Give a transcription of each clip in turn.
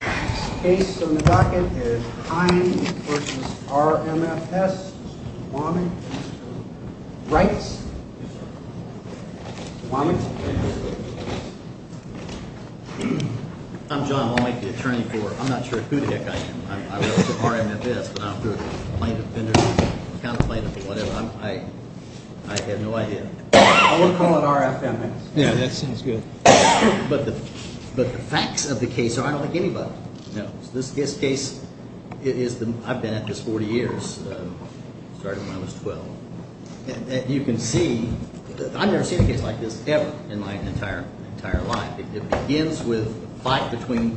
The case on the docket is Hines v. RMFS. Womack? Wrights? Womack? I'm John Womack, the attorney for... I'm not sure who the heck I am. I work for RMFS, but I don't do plaintiff, defendant, or whatever. I have no idea. We'll call it RFMS. Yeah, that sounds good. But the facts of the case are I don't think anybody knows. This case is the... I've been at this 40 years. Started when I was 12. And you can see... I've never seen a case like this ever in my entire life. It begins with a fight between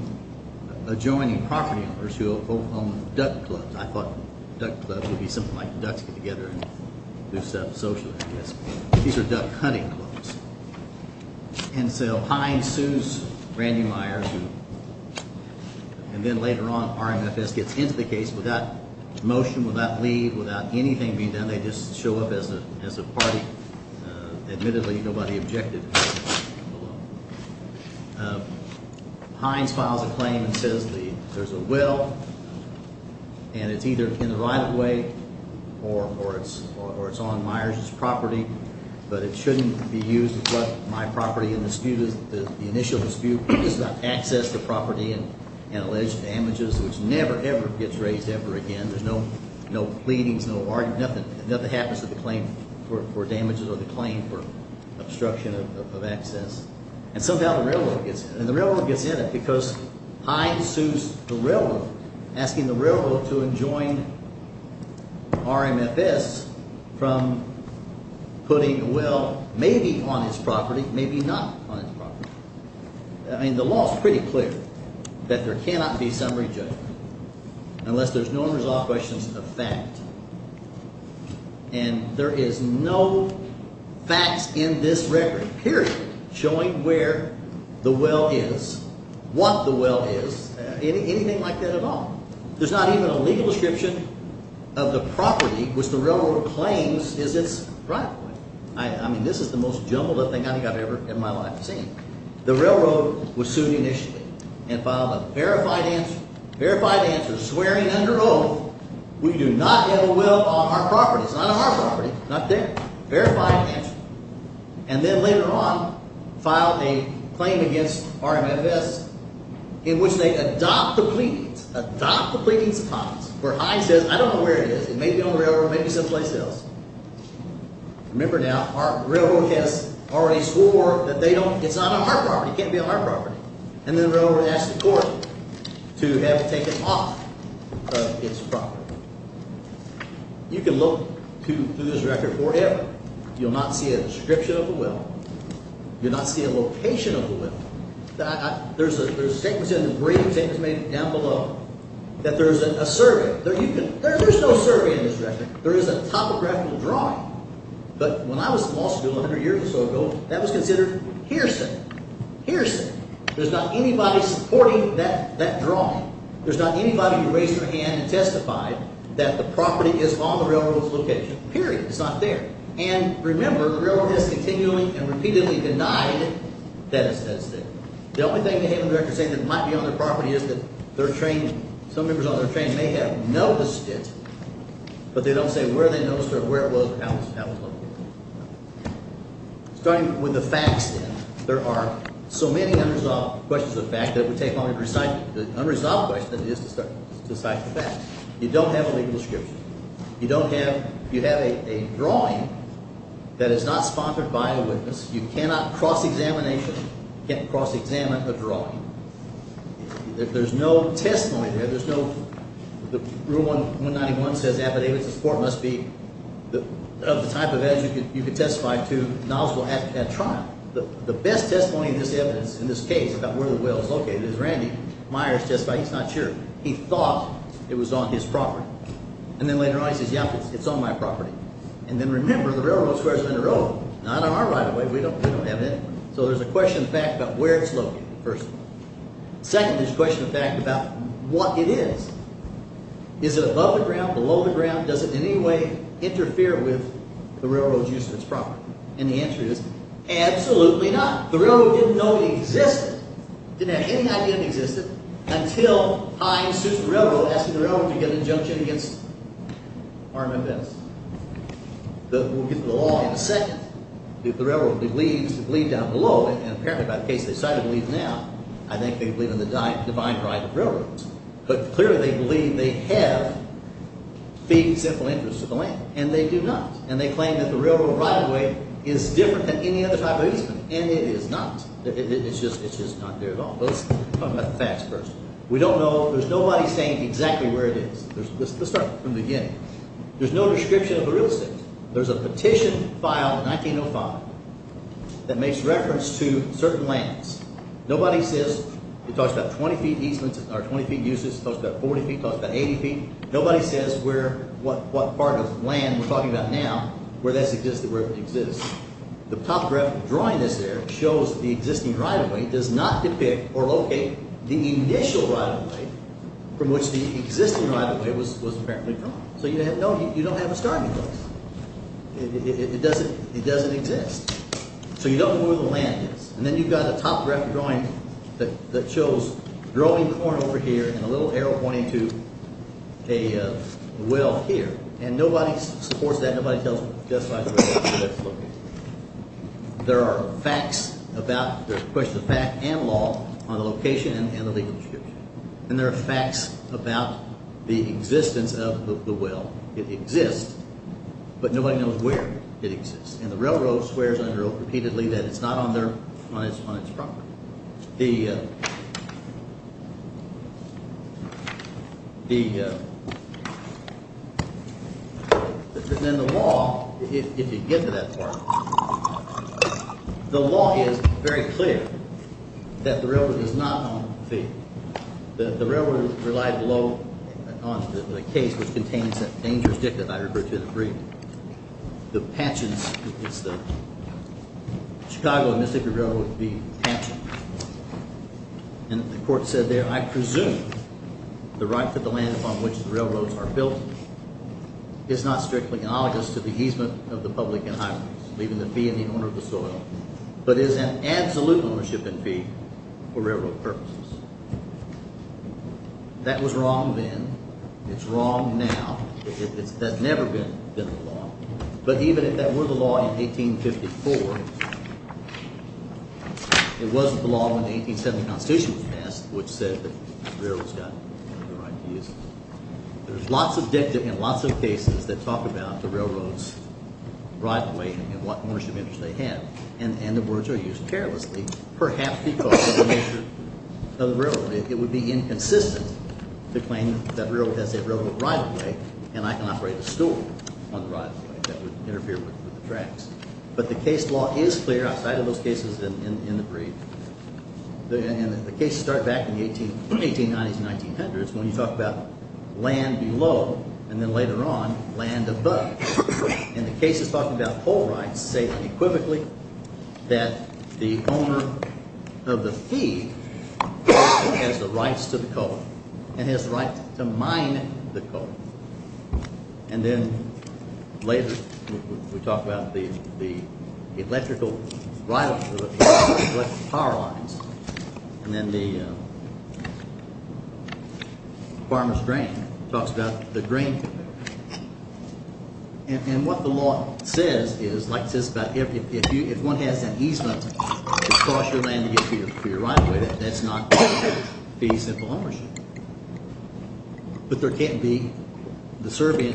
adjoining property owners who own duck clubs. I thought duck clubs would be something like ducks get together and do stuff socially, I guess. These are duck hunting clubs. And so Hines sues Randy Myers. And then later on RMFS gets into the case without motion, without leave, without anything being done. They just show up as a party. Admittedly, nobody objected. Hines files a claim and says there's a will. And it's either in the right of way or it's on Myers' property. But it shouldn't be used as what my property in dispute is. The initial dispute is about access to property and alleged damages, which never, ever gets raised ever again. There's no pleadings, no arguments. Nothing happens with the claim for damages or the claim for obstruction of access. And somehow the railroad gets in. And the railroad gets in it because Hines sues the railroad, asking the railroad to adjoin RMFS from putting a will maybe on his property, maybe not on his property. I mean, the law is pretty clear that there cannot be summary judgment unless there's no unresolved questions of fact. And there is no facts in this record, period, showing where the will is, what the will is, anything like that at all. There's not even a legal description of the property which the railroad claims is its rightful owner. I mean, this is the most jumbled thing I think I've ever in my life seen. The railroad was sued initially and filed a verified answer swearing under oath, we do not have a will on our property. It's not on our property. Not there. Verified answer. And then later on filed a claim against RMFS in which they adopt the pleadings, adopt the pleadings of Hines, where Hines says, I don't know where it is. It may be on the railroad. It may be someplace else. Remember now, our railroad has already swore that they don't, it's not on our property. It can't be on our property. And then the railroad asked the court to have it taken off of its property. You can look through this record forever. You'll not see a description of the will. You'll not see a location of the will. There's statements in the brief, statements made down below, that there's a survey. There's no survey in this record. There is a topographical drawing. But when I was in law school 100 years or so ago, that was considered hearsay. Hearsay. There's not anybody supporting that drawing. There's not anybody who raised their hand and testified that the property is on the railroad's location. Period. It's not there. And remember, the railroad has continually and repeatedly denied that it's there. The only thing the Haven director is saying that it might be on their property is that their train, some members on their train may have noticed it, but they don't say where they noticed it or where it was or how it was located. Starting with the facts then, there are so many unresolved questions of fact that it would take longer to recite the unresolved question than it is to recite the facts. You don't have a legal description. You don't have a drawing that is not sponsored by a witness. You cannot cross-examine a drawing. There's no testimony there. Rule 191 says affidavits of support must be of the type of evidence you can testify to. The best testimony of this evidence in this case about where the well is located is Randy Myers testified. He's not sure. He thought it was on his property. And then later on he says, yeah, it's on my property. And then remember, the railroad is where it's on the railroad, not on our right-of-way. We don't have it anywhere. So there's a question of fact about where it's located, first of all. Second, there's a question of fact about what it is. Is it above the ground, below the ground? Does it in any way interfere with the railroad's use of its property? And the answer is absolutely not. The railroad didn't know it existed, didn't have any idea it existed, until Hines sued the railroad, asking the railroad to get an injunction against armaments. We'll get to the law in a second. The railroad believed down below, and apparently by the case they decided to believe now, I think they believe in the divine right of railroads. But clearly they believe they have feeding simple interest to the land. And they do not. And they claim that the railroad right-of-way is different than any other type of easement. And it is not. It's just not there at all. Let's talk about the facts first. We don't know, there's nobody saying exactly where it is. Let's start from the beginning. There's no description of the real estate. There's a petition filed in 1905 that makes reference to certain lands. Nobody says, it talks about 20 feet easements or 20 feet uses, it talks about 40 feet, it talks about 80 feet. Nobody says what part of land we're talking about now, where that's existed, where it exists. The top graph drawing this there shows the existing right-of-way, does not depict or locate the initial right-of-way from which the existing right-of-way was apparently drawn. So you don't have a starting place. It doesn't exist. So you don't know where the land is. And then you've got a top graph drawing that shows growing corn over here and a little arrow pointing to a well here. And nobody supports that, nobody justifies the right-of-way. There are facts about, there's a question of fact and law on the location and the legal description. And there are facts about the existence of the well. It exists, but nobody knows where it exists. And the railroad swears under it repeatedly that it's not on its property. The, the, then the law, if you get to that part, the law is very clear that the railroad is not on the field. The railroad relied below on the case which contains that dangerous dick that I referred to in the brief. The pensions, it's the Chicago and Mississippi Railroad being pensioned. And the court said there, I presume the right to the land upon which the railroads are built is not strictly analogous to the easement of the public and highways, leaving the fee in the owner of the soil, but is an absolute ownership in fee for railroad purposes. That was wrong then. It's wrong now. That's never been the law. But even if that were the law in 1854, it wasn't the law when the 1870 Constitution was passed, which said that the railroad's got no right to use it. There's lots of dictum and lots of cases that talk about the railroad's right-of-way and what ownership interest they have. And the words are used carelessly, perhaps because of the nature of the railroad. It would be inconsistent to claim that railroad has a railroad right-of-way, and I can operate a stool on the right-of-way that would interfere with the tracks. But the case law is clear outside of those cases in the brief. And the cases start back in the 1890s and 1900s when you talk about land below and then later on land above. And the cases talking about coal rights say equivocally that the owner of the fee has the rights to the coal and has the right to mine the coal. And then later we talk about the electrical power lines. And then the farmer's grain talks about the grain conveyor. And what the law says is, like it says about – if one has an easement across your land to get to your right-of-way, that's not fees and ownership. But there can't be – the serving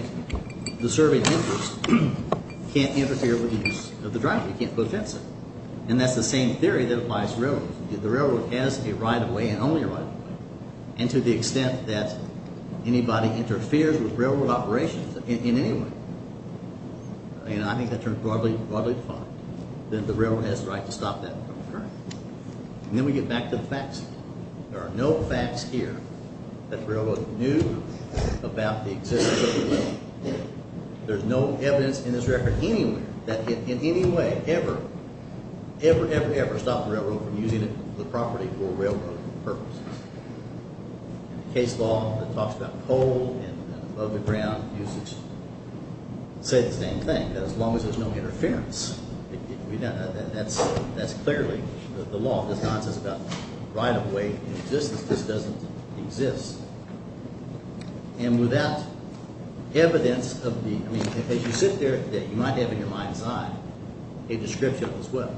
interest can't interfere with the use of the driveway. You can't put a fence in. And that's the same theory that applies to railroads. If the railroad has a right-of-way and only a right-of-way, and to the extent that anybody interferes with railroad operations in any way, and I think that's broadly defined, then the railroad has the right to stop that from occurring. And then we get back to the facts. There are no facts here that the railroad knew about the existence of the line. There's no evidence in this record anywhere that it in any way ever, ever, ever, ever stopped the railroad from using the property for railroad purposes. And the case law that talks about coal and above-the-ground usage say the same thing. As long as there's no interference, that's clearly the law. It's not just about right-of-way existence. This doesn't exist. And without evidence of the – I mean, as you sit there today, you might have in your mind's eye a description as well.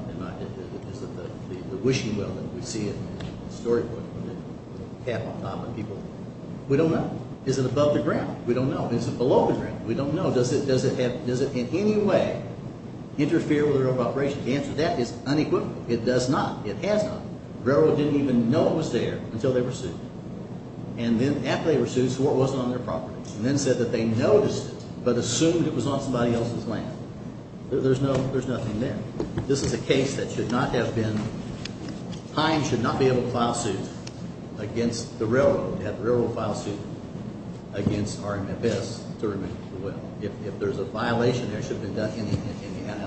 Is it the wishing well that we see in the storybook with the cap on top of people? We don't know. Is it above the ground? We don't know. Is it below the ground? We don't know. Does it in any way interfere with railroad operations? The answer to that is unequivocal. It does not. It has not. The railroad didn't even know it was there until they were sued. And then after they were sued, so what wasn't on their property? And then said that they noticed it but assumed it was on somebody else's land. There's nothing there. This is a case that should not have been – Hines should not be able to file suit against the railroad, have the railroad file suit against RMFS to remove the well. If there's a violation there, it should have been done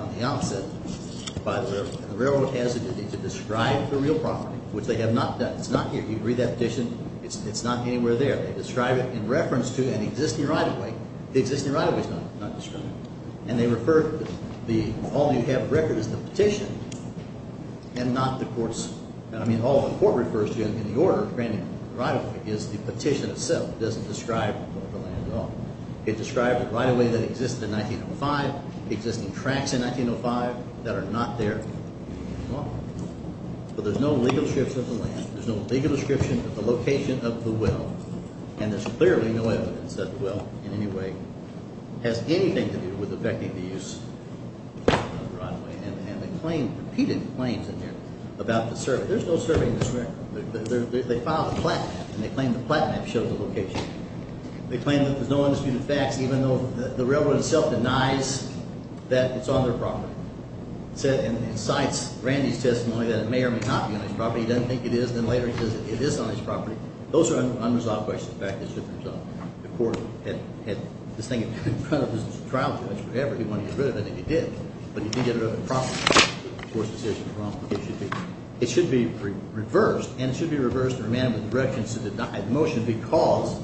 on the opposite by the railroad. And the railroad has a duty to describe the real property, which they have not done. It's not here. If you read that petition, it's not anywhere there. They describe it in reference to an existing right-of-way. The existing right-of-way is not described. And they refer – all you have in record is the petition and not the court's – I mean all the court refers to in the order, granting the right-of-way, is the petition itself. It doesn't describe the land at all. It described the right-of-way that existed in 1905, existing tracks in 1905 that are not there at all. But there's no legal description of the land. There's no legal description of the location of the well. And there's clearly no evidence that the well in any way has anything to do with affecting the use of the right-of-way. And they claim – repeated claims in here about the survey. There's no survey in this record. They filed a plat map, and they claim the plat map shows the location. They claim that there's no undisputed facts, even though the railroad itself denies that it's on their property. It cites Randy's testimony that it may or may not be on his property. He doesn't think it is. And then later he says it is on his property. Those are unresolved questions. In fact, this should be resolved. The court had this thing in front of his trial judge forever. He wanted to get rid of it, and he did. But he didn't get rid of it promptly. The court's decision was wrong. It should be reversed, and it should be reversed and remanded with directions to deny the motion because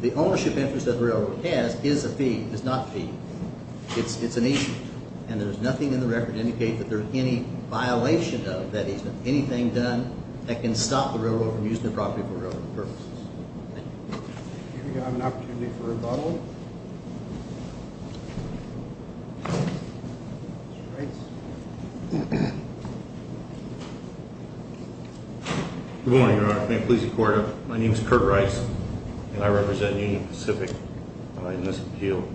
the ownership interest that the railroad has is a fee. It's not fee. It's an issue. And there's nothing in the record to indicate that there's any violation of that issue, anything done that can stop the railroad from using the property for railroad purposes. Thank you. We have an opportunity for rebuttal. Good morning, Your Honor. May it please the court, my name is Kurt Rice, and I represent Union Pacific in this appeal.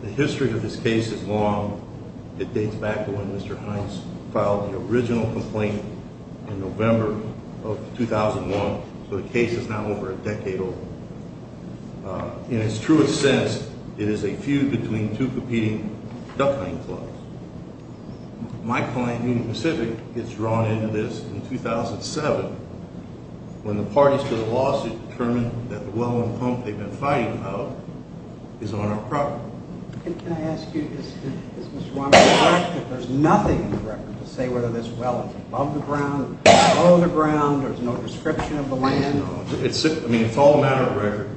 The history of this case is long. It dates back to when Mr. Hines filed the original complaint in November of 2001, so the case is now over a decade old. In its truest sense, it is a feud between two competing duck hunting clubs. My client, Union Pacific, gets drawn into this in 2007 when the parties to the lawsuit determined that the well and pump they've been fighting about is on our property. Can I ask you, is Mr. Weinberg correct that there's nothing in the record to say whether this well is above the ground, below the ground, there's no description of the land? No. I mean, it's all a matter of record.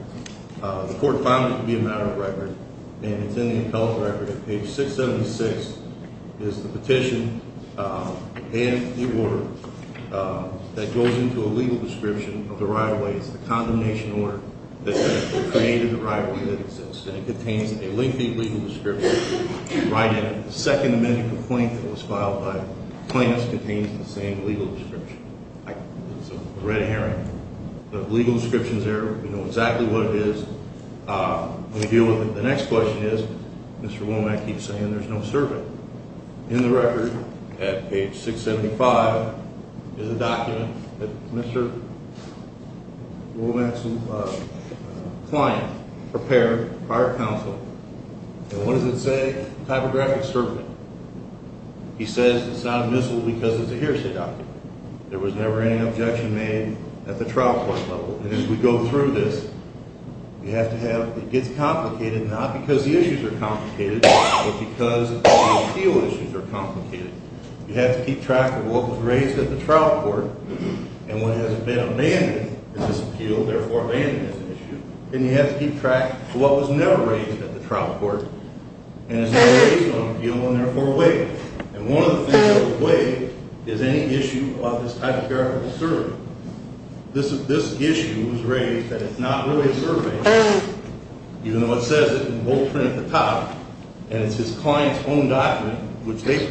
The court found it to be a matter of record, and it's in the appellate record. Page 676 is the petition and the order that goes into a legal description of the right-of-way. It's the condemnation order that created the right-of-way that exists, and it contains a lengthy legal description right in it. The second amendment complaint that was filed by plaintiffs contains the same legal description. It's a red herring. The legal description's there. We know exactly what it is. We'll deal with it. The next question is, Mr. Womack keeps saying there's no servant. In the record at page 675 is a document that Mr. Womack's client prepared prior to counsel. And what does it say? Typographic servant. He says it's not a missile because it's a hearsay document. There was never any objection made at the trial court level. And as we go through this, you have to have it gets complicated not because the issues are complicated but because the appeal issues are complicated. You have to keep track of what was raised at the trial court and what hasn't been abandoned in this appeal, therefore abandoned as an issue. And you have to keep track of what was never raised at the trial court and is raised on appeal and, therefore, waived. And one of the things that was waived is any issue about this typographical servant. This issue was raised that it's not really a servant, even though it says it in bold print at the top. And it's his client's own document, which they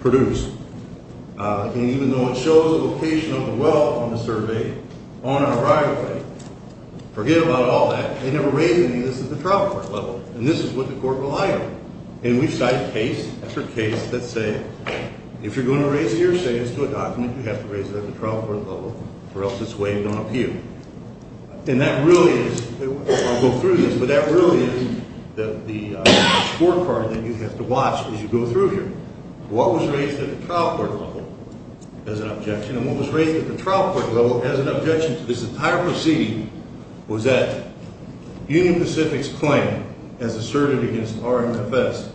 produced. And even though it shows the location of the well on the survey on our right, forget about all that. They never raised any of this at the trial court level. And this is what the court relied on. And we cite case after case that say, if you're going to raise a hearsay, it's to a document. You have to raise it at the trial court level or else it's waived on appeal. And that really is – I'll go through this, but that really is the scorecard that you have to watch as you go through here. What was raised at the trial court level as an objection, and what was raised at the trial court level as an objection to this entire proceeding, was that Union Pacific's claim, as asserted against RMFS,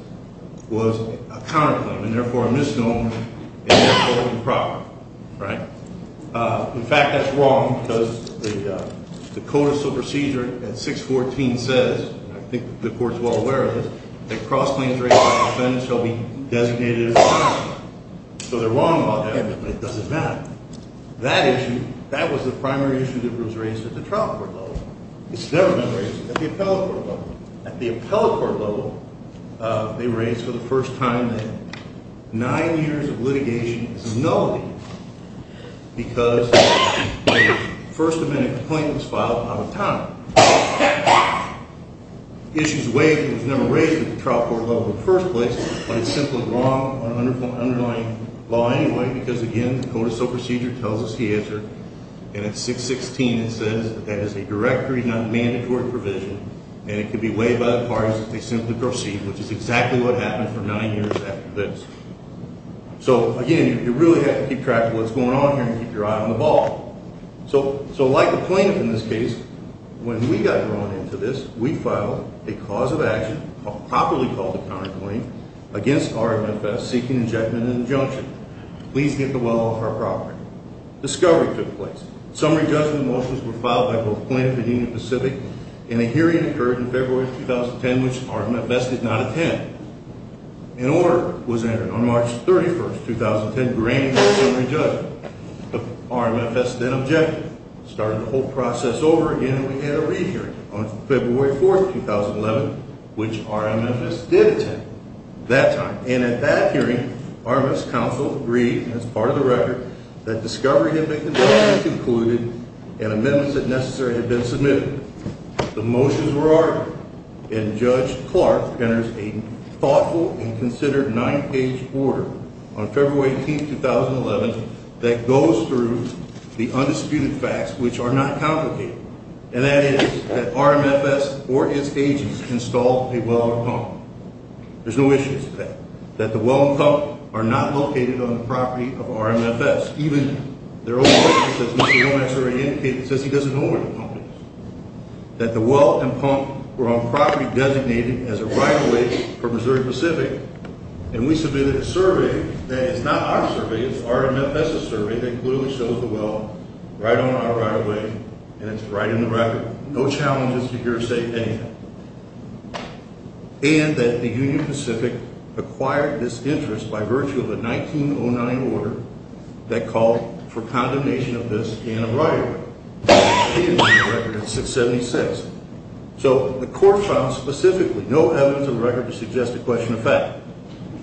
was a counterclaim, and therefore a misnomer, and therefore improper. In fact, that's wrong because the Code of Civil Procedure at 614 says, and I think the court is well aware of this, that cross-claims raised by defendants shall be designated as improper. So they're wrong about that, but it doesn't matter. That issue, that was the primary issue that was raised at the trial court level. It's never been raised at the appellate court level. At the appellate court level, they raised for the first time that nine years of litigation is nullity because the First Amendment claim was filed out of time. The issue is waived and was never raised at the trial court level in the first place, but it's simply wrong, an underlying law anyway, because again, the Code of Civil Procedure tells us the answer, and at 616 it says that is a directory, not a mandatory provision, and it can be waived by the parties if they simply proceed, which is exactly what happened for nine years after this. So again, you really have to keep track of what's going on here and keep your eye on the ball. So like the plaintiff in this case, when we got drawn into this, we filed a cause of action, a properly called a counterclaim, against RMFS seeking injectment and injunction. Please get the well off our property. Discovery took place. Summary judgment motions were filed by both plaintiff and Union Pacific, and a hearing occurred in February of 2010, which RMFS did not attend. An order was entered on March 31, 2010, granting a summary judgment. RMFS then objected, started the whole process over again, and we had a re-hearing on February 4, 2011, which RMFS did attend that time, and at that hearing, RMFS counsel agreed as part of the record that Discovery had been conducted, concluded, and amendments that necessary had been submitted. The motions were ordered, and Judge Clark enters a thoughtful and considered nine-page order on February 18, 2011, that goes through the undisputed facts, which are not complicated, and that is that RMFS or its agents installed a well or pump. There's no issues with that. That the well and pump are not located on the property of RMFS, even their own records that Mr. Lomax already indicated says he doesn't know where the pump is. That the well and pump were on property designated as a right-of-way for Missouri Pacific, and we submitted a survey that is not our survey. It's RMFS's survey that clearly shows the well right on our right-of-way, and it's right in the record. No challenges to hearsay, anything. And that the Union Pacific acquired this interest by virtue of a 1909 order that called for condemnation of this in a right-of-way. It is in the record at 676. So the court found specifically no evidence of a record to suggest a question of fact.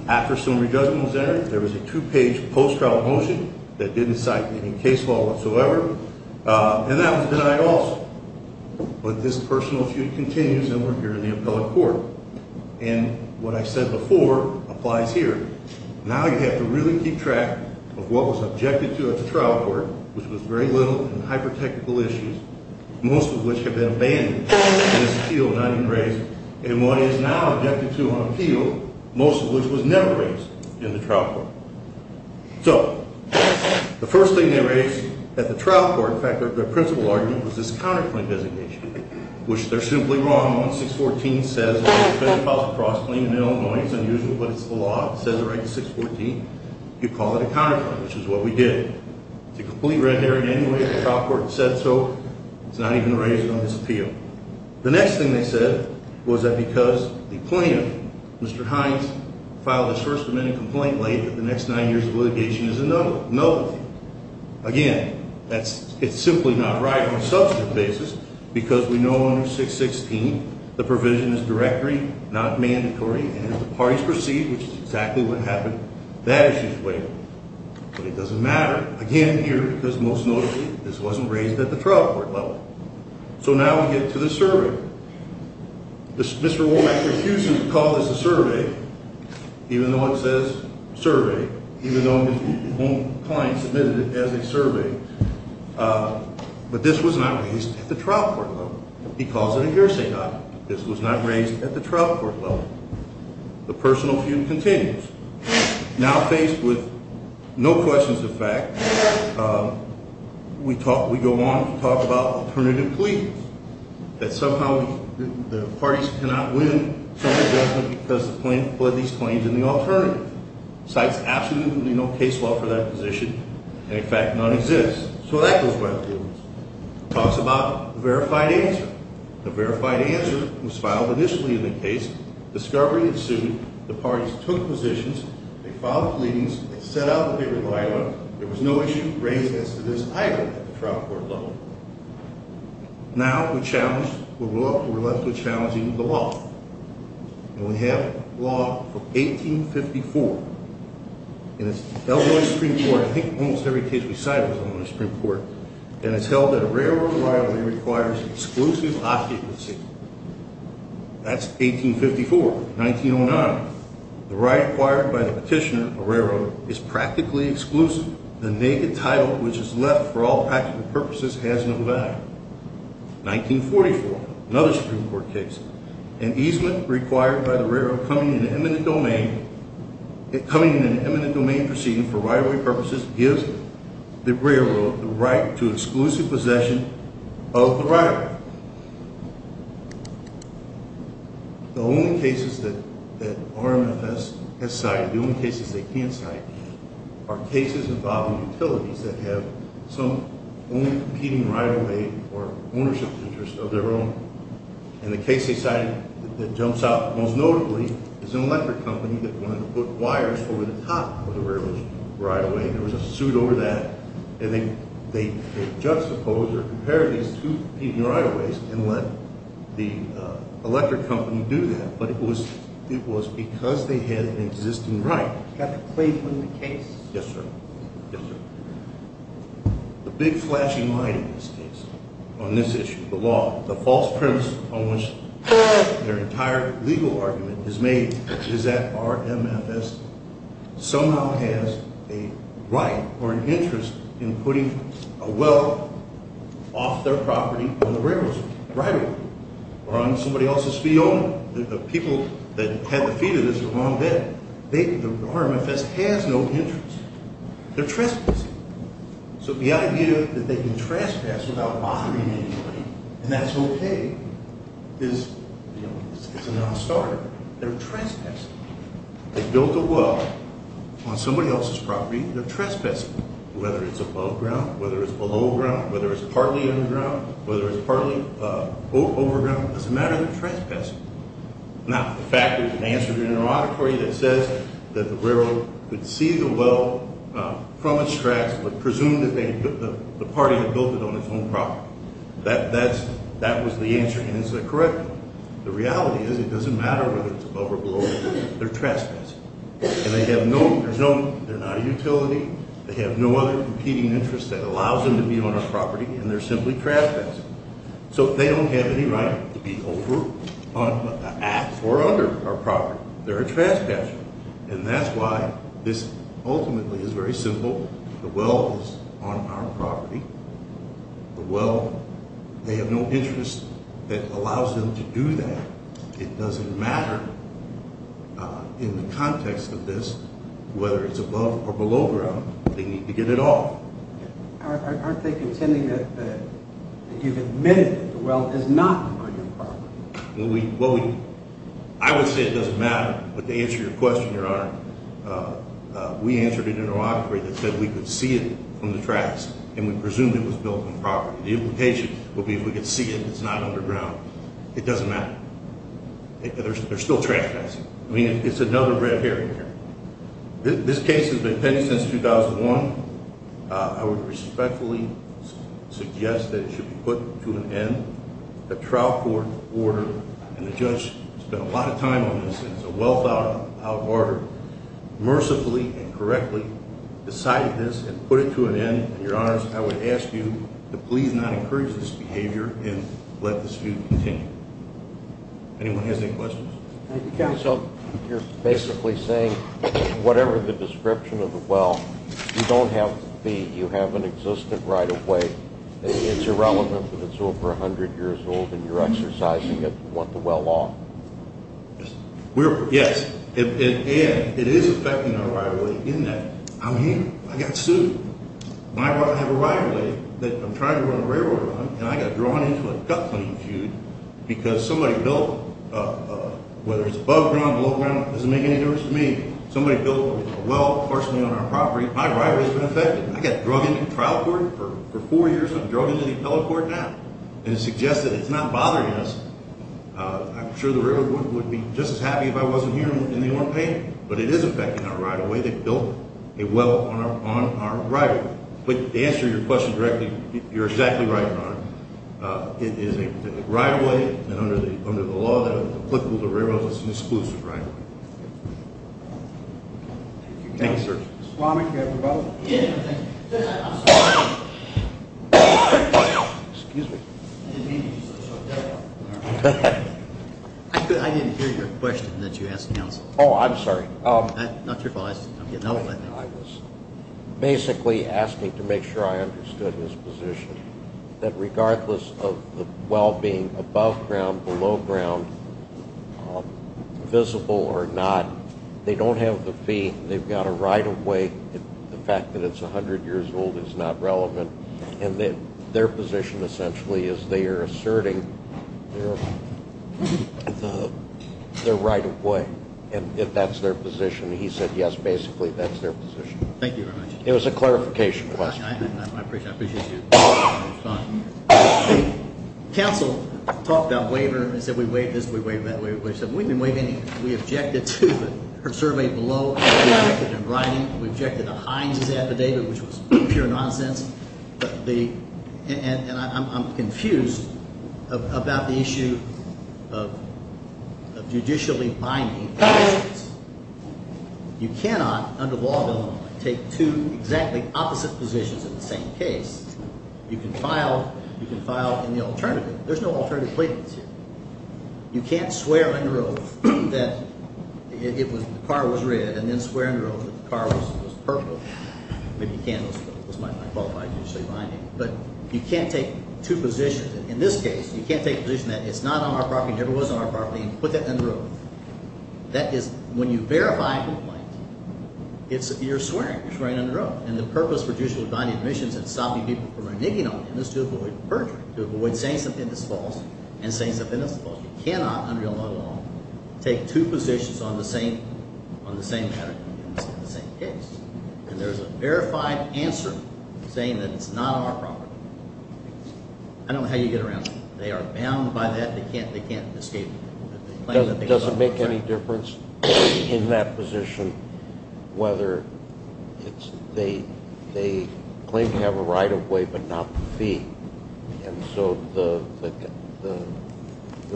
After summary judgment was entered, there was a two-page post-trial motion that didn't cite any case law whatsoever, and that was denied also. But this personal feud continues, and we're here in the appellate court. And what I said before applies here. Now you have to really keep track of what was objected to at the trial court, which was very little in hyper-technical issues, most of which have been abandoned in this appeal, not even raised, and what is now objected to on appeal, most of which was never raised in the trial court. So the first thing they raised at the trial court, in fact, their principal argument, was this counterclaim designation, which they're simply wrong on. 614 says it's a cross-claim in Illinois. It's unusual, but it's the law. It says it right in 614. You call it a counterclaim, which is what we did. It's a complete red herring anyway. The trial court said so. It's not even raised on this appeal. The next thing they said was that because the plaintiff, Mr. Hines, filed his first amendment complaint late that the next nine years of litigation is a nullity. Again, it's simply not right on a substantive basis because we know under 616 the provision is directory, not mandatory, and if the parties proceed, which is exactly what happened, that issue is waived. But it doesn't matter. Again, here, because most notably, this wasn't raised at the trial court level. So now we get to the survey. Mr. Womack refuses to call this a survey, even though it says survey, even though the home client submitted it as a survey. But this was not raised at the trial court level. He calls it a hearsay document. This was not raised at the trial court level. The personal feud continues. Now faced with no questions of fact, we go on to talk about alternative pleadings, that somehow the parties cannot win some adjustment because the plaintiff fled these claims in the alternative. Cites absolutely no case law for that position and, in fact, none exists. So that goes right through. Talks about verified answer. The verified answer was filed initially in the case. Discovery ensued. The parties took positions. They filed pleadings. They set out what they relied on. There was no issue raised as to this either at the trial court level. Now we're left with challenging the law. And we have law from 1854. And it's held on the Supreme Court. I think almost every case we cite is on the Supreme Court. And it's held that a railroad liability requires exclusive occupancy. That's 1854. 1909. The right acquired by the petitioner, a railroad, is practically exclusive. The naked title which is left for all practical purposes has no value. 1944. Another Supreme Court case. An easement required by the railroad coming in an eminent domain proceeding for rivalry purposes gives the railroad the right to exclusive possession of the rivalry. The only cases that RMFS has cited, the only cases they can cite, are cases involving utilities that have some own competing rivalry or ownership interest of their own. And the case they cited that jumps out most notably is an electric company that wanted to put wires over the top of the railroad's rivalry. There was a suit over that. And they juxtaposed or compared these two competing rivalries and let the electric company do that. But it was because they had an existing right. You have to play from the case. Yes, sir. Yes, sir. The big flashing light in this case on this issue, the law, the false premise on which their entire legal argument is made is that RMFS somehow has a right or an interest in putting a well off their property on the railroad's rivalry or on somebody else's field. The people that had the feet of this were wrong then. RMFS has no interest. They're trespassing. So the idea that they can trespass without bothering anybody and that's okay is a nonstarter. They're trespassing. They built a well on somebody else's property. They're trespassing, whether it's above ground, whether it's below ground, whether it's partly underground, whether it's partly overground. It doesn't matter. They're trespassing. Now, the fact is an answer to your interrogatory that says that the railroad could see the well from its tracks but presume that the party had built it on its own property. That was the answer, and it's a correct one. The reality is it doesn't matter whether it's above or below the ground. They're trespassing. And they have no, there's no, they're not a utility. They have no other competing interest that allows them to be on our property, and they're simply trespassing. So they don't have any right to be over, on, at, or under our property. They're a trespasser, and that's why this ultimately is very simple. The well is on our property. The well, they have no interest that allows them to do that. It doesn't matter in the context of this whether it's above or below ground. They need to get it off. Aren't they contending that you've admitted that the well is not on your property? Well, we, I would say it doesn't matter, but to answer your question, Your Honor, we answered an interrogatory that said we could see it from the tracks, and we presumed it was built on property. The implication would be if we could see it, it's not underground. It doesn't matter. They're still trespassing. I mean, it's another red herring here. This case has been pending since 2001. I would respectfully suggest that it should be put to an end. The trial court order, and the judge spent a lot of time on this, and it's a well-thought-out order, mercifully and correctly decided this and put it to an end. And, Your Honors, I would ask you to please not encourage this behavior and let this feud continue. Anyone has any questions? Thank you, Counsel. You're basically saying whatever the description of the well, you don't have the fee. You haven't existed right away. It's irrelevant that it's over 100 years old and you're exercising it. You want the well law? Yes. And it is affecting our rivalry in that I'm here. I got sued. I have a rivalry that I'm trying to run a railroad on, and I got drawn into a gut-cleaning feud because somebody built, whether it's above ground, below ground, it doesn't make any difference to me. Somebody built a well partially on our property. My rivalry has been affected. I got drugged into trial court for four years. I'm drugged into the appellate court now. And it suggests that it's not bothering us. I'm sure the railroad would be just as happy if I wasn't here and they weren't paying me. But it is affecting our rivalry. They built a well on our rivalry. But to answer your question directly, you're exactly right, Your Honor. It is a rivalry, and under the law that is applicable to railroads, it's an exclusive rivalry. Thank you, sir. Mr. Plowman, do you have a rebuttal? Excuse me. I didn't hear your question that you asked counsel. Oh, I'm sorry. Not your fault. I was basically asking to make sure I understood his position, that regardless of the well being above ground, below ground, visible or not, they don't have the fee. They've got a right of way. The fact that it's 100 years old is not relevant. And their position essentially is they are asserting their right of way. And if that's their position, he said yes, basically, that's their position. Thank you very much. It was a clarification question. I appreciate you responding. Counsel talked about waiver and said we waived this, we waived that. We objected to her survey below. We objected in writing. We objected to Hines' affidavit, which was pure nonsense. And I'm confused about the issue of judicially binding conditions. You cannot, under the law of Illinois, take two exactly opposite positions in the same case. You can file in the alternative. There's no alternative claimants here. You can't swear under oath that the car was red and then swear under oath that the car was purple. Maybe you can, but those might not qualify as judicially binding. But you can't take two positions. In this case, you can't take a position that it's not on our property and never was on our property and put that under oath. That is, when you verify a complaint, you're swearing. You're swearing under oath. And the purpose for judicially binding admissions and stopping people from reneging on them is to avoid perjury, to avoid saying something that's false and saying something that's false. You cannot, under Illinois law, take two positions on the same matter in the same case. And there's a verified answer saying that it's not on our property. I don't know how you get around that. They are bound by that. They can't escape it. Does it make any difference in that position whether they claim to have a right of way but not the fee? And so the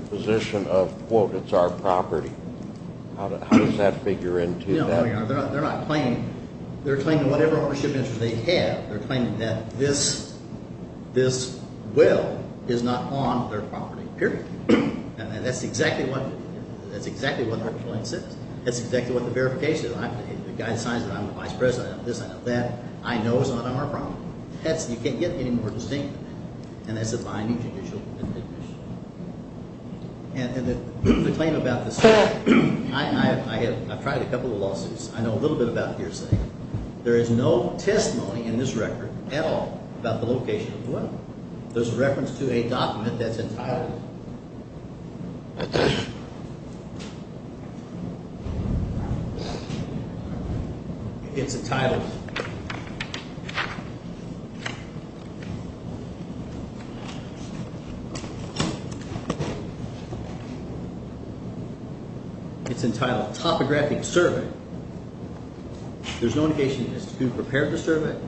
position of, quote, it's our property, how does that figure into that? They're not claiming. They're claiming whatever ownership interest they have. They're claiming that this will is not on their property, period. And that's exactly what the complaint says. That's exactly what the verification is. The guy signs it. I'm the vice president. I know this. I know that. I know it's not on our property. You can't get any more distinct than that. And that's a binding judicial admission. And the claim about the state, I've tried a couple of lawsuits. I know a little bit about hearsay. There is no testimony in this record at all about the location of the weapon. There's a reference to a document that's entitled. It's entitled. It's entitled Topographic Survey. There's no indication it's been prepared to serve it.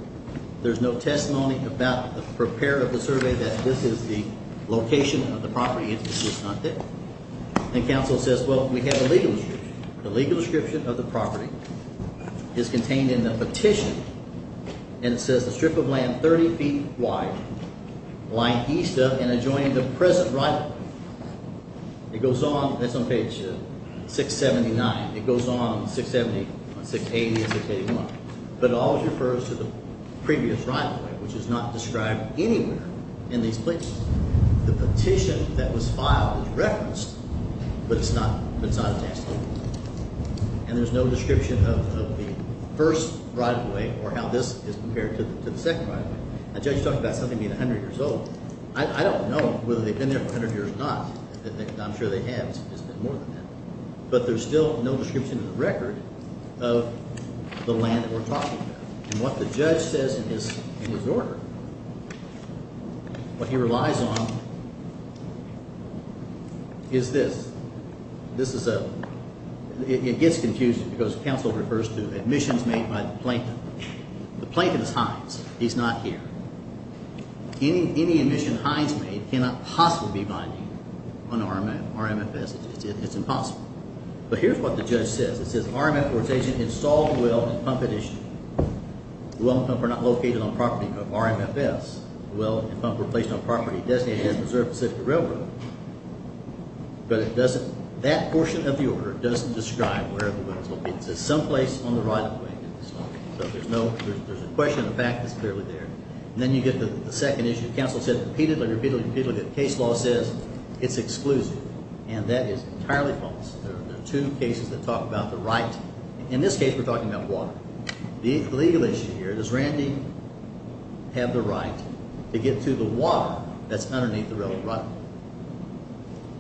There's no testimony about the prepare of the survey that this is the location of the property. And counsel says, well, we have a legal description. The legal description of the property is contained in the petition. And it says the strip of land 30 feet wide line east of and adjoining the present right. It goes on. That's on page 679. It goes on 670, 680. But it always refers to the previous right, which is not described anywhere in these places. The petition that was filed was referenced, but it's not. It's not. And there's no description of the first right away or how this is compared to the second. I just talked about something being 100 years old. I don't know whether they've been there for 100 years or not. I'm sure they have more than that, but there's still no description of the record. Of the land that we're talking about. And what the judge says in his order, what he relies on, is this. This is a, it gets confusing because counsel refers to admissions made by the plaintiff. The plaintiff is Hines. He's not here. Any admission Hines made cannot possibly be binding on RMFS. It's impossible. But here's what the judge says. It says RMFS agent installed the well in pump edition. The well and pump are not located on property of RMFS. The well and pump were placed on property designated as Preserve Pacific Railroad. But it doesn't, that portion of the order doesn't describe where the well is located. It says someplace on the right of the way. So there's no, there's a question of the fact that's clearly there. And then you get to the second issue. Counsel said repeatedly, repeatedly, repeatedly that the case law says it's exclusive. And that is entirely false. There are two cases that talk about the right. In this case, we're talking about water. The legal issue here, does Randy have the right to get to the water that's underneath the railroad?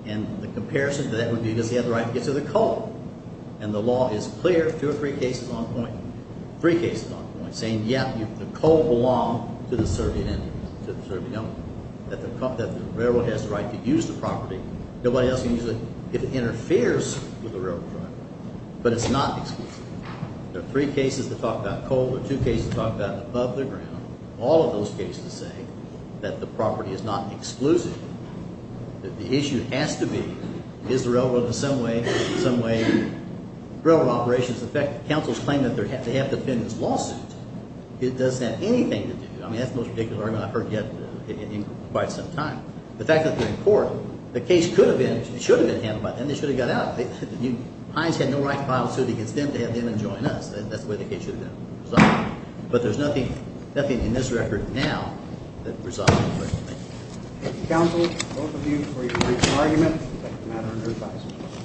And the comparison to that would be, does he have the right to get to the coal? And the law is clear. Two or three cases on point. Three cases on point. Saying, yep, the coal belonged to the Serbian Indians, to the Serbian owners. That the railroad has the right to use the property. Nobody else can use it if it interferes with the railroad. But it's not exclusive. There are three cases that talk about coal. There are two cases that talk about above the ground. All of those cases say that the property is not exclusive. That the issue has to be, is the railroad in some way, in some way railroad operations effective? Counsel's claim that they have to defend this lawsuit. It doesn't have anything to do, I mean that's the most ridiculous argument I've heard yet in quite some time. The fact that they're in court, the case could have been, should have been handled by them. They should have got out. Hines had no right to file a suit against them to have them enjoin us. That's the way the case should have been resolved. But there's nothing, nothing in this record now that resolves the question. Thank you. Counsel, both of you for your reasonable argument. The matter under review.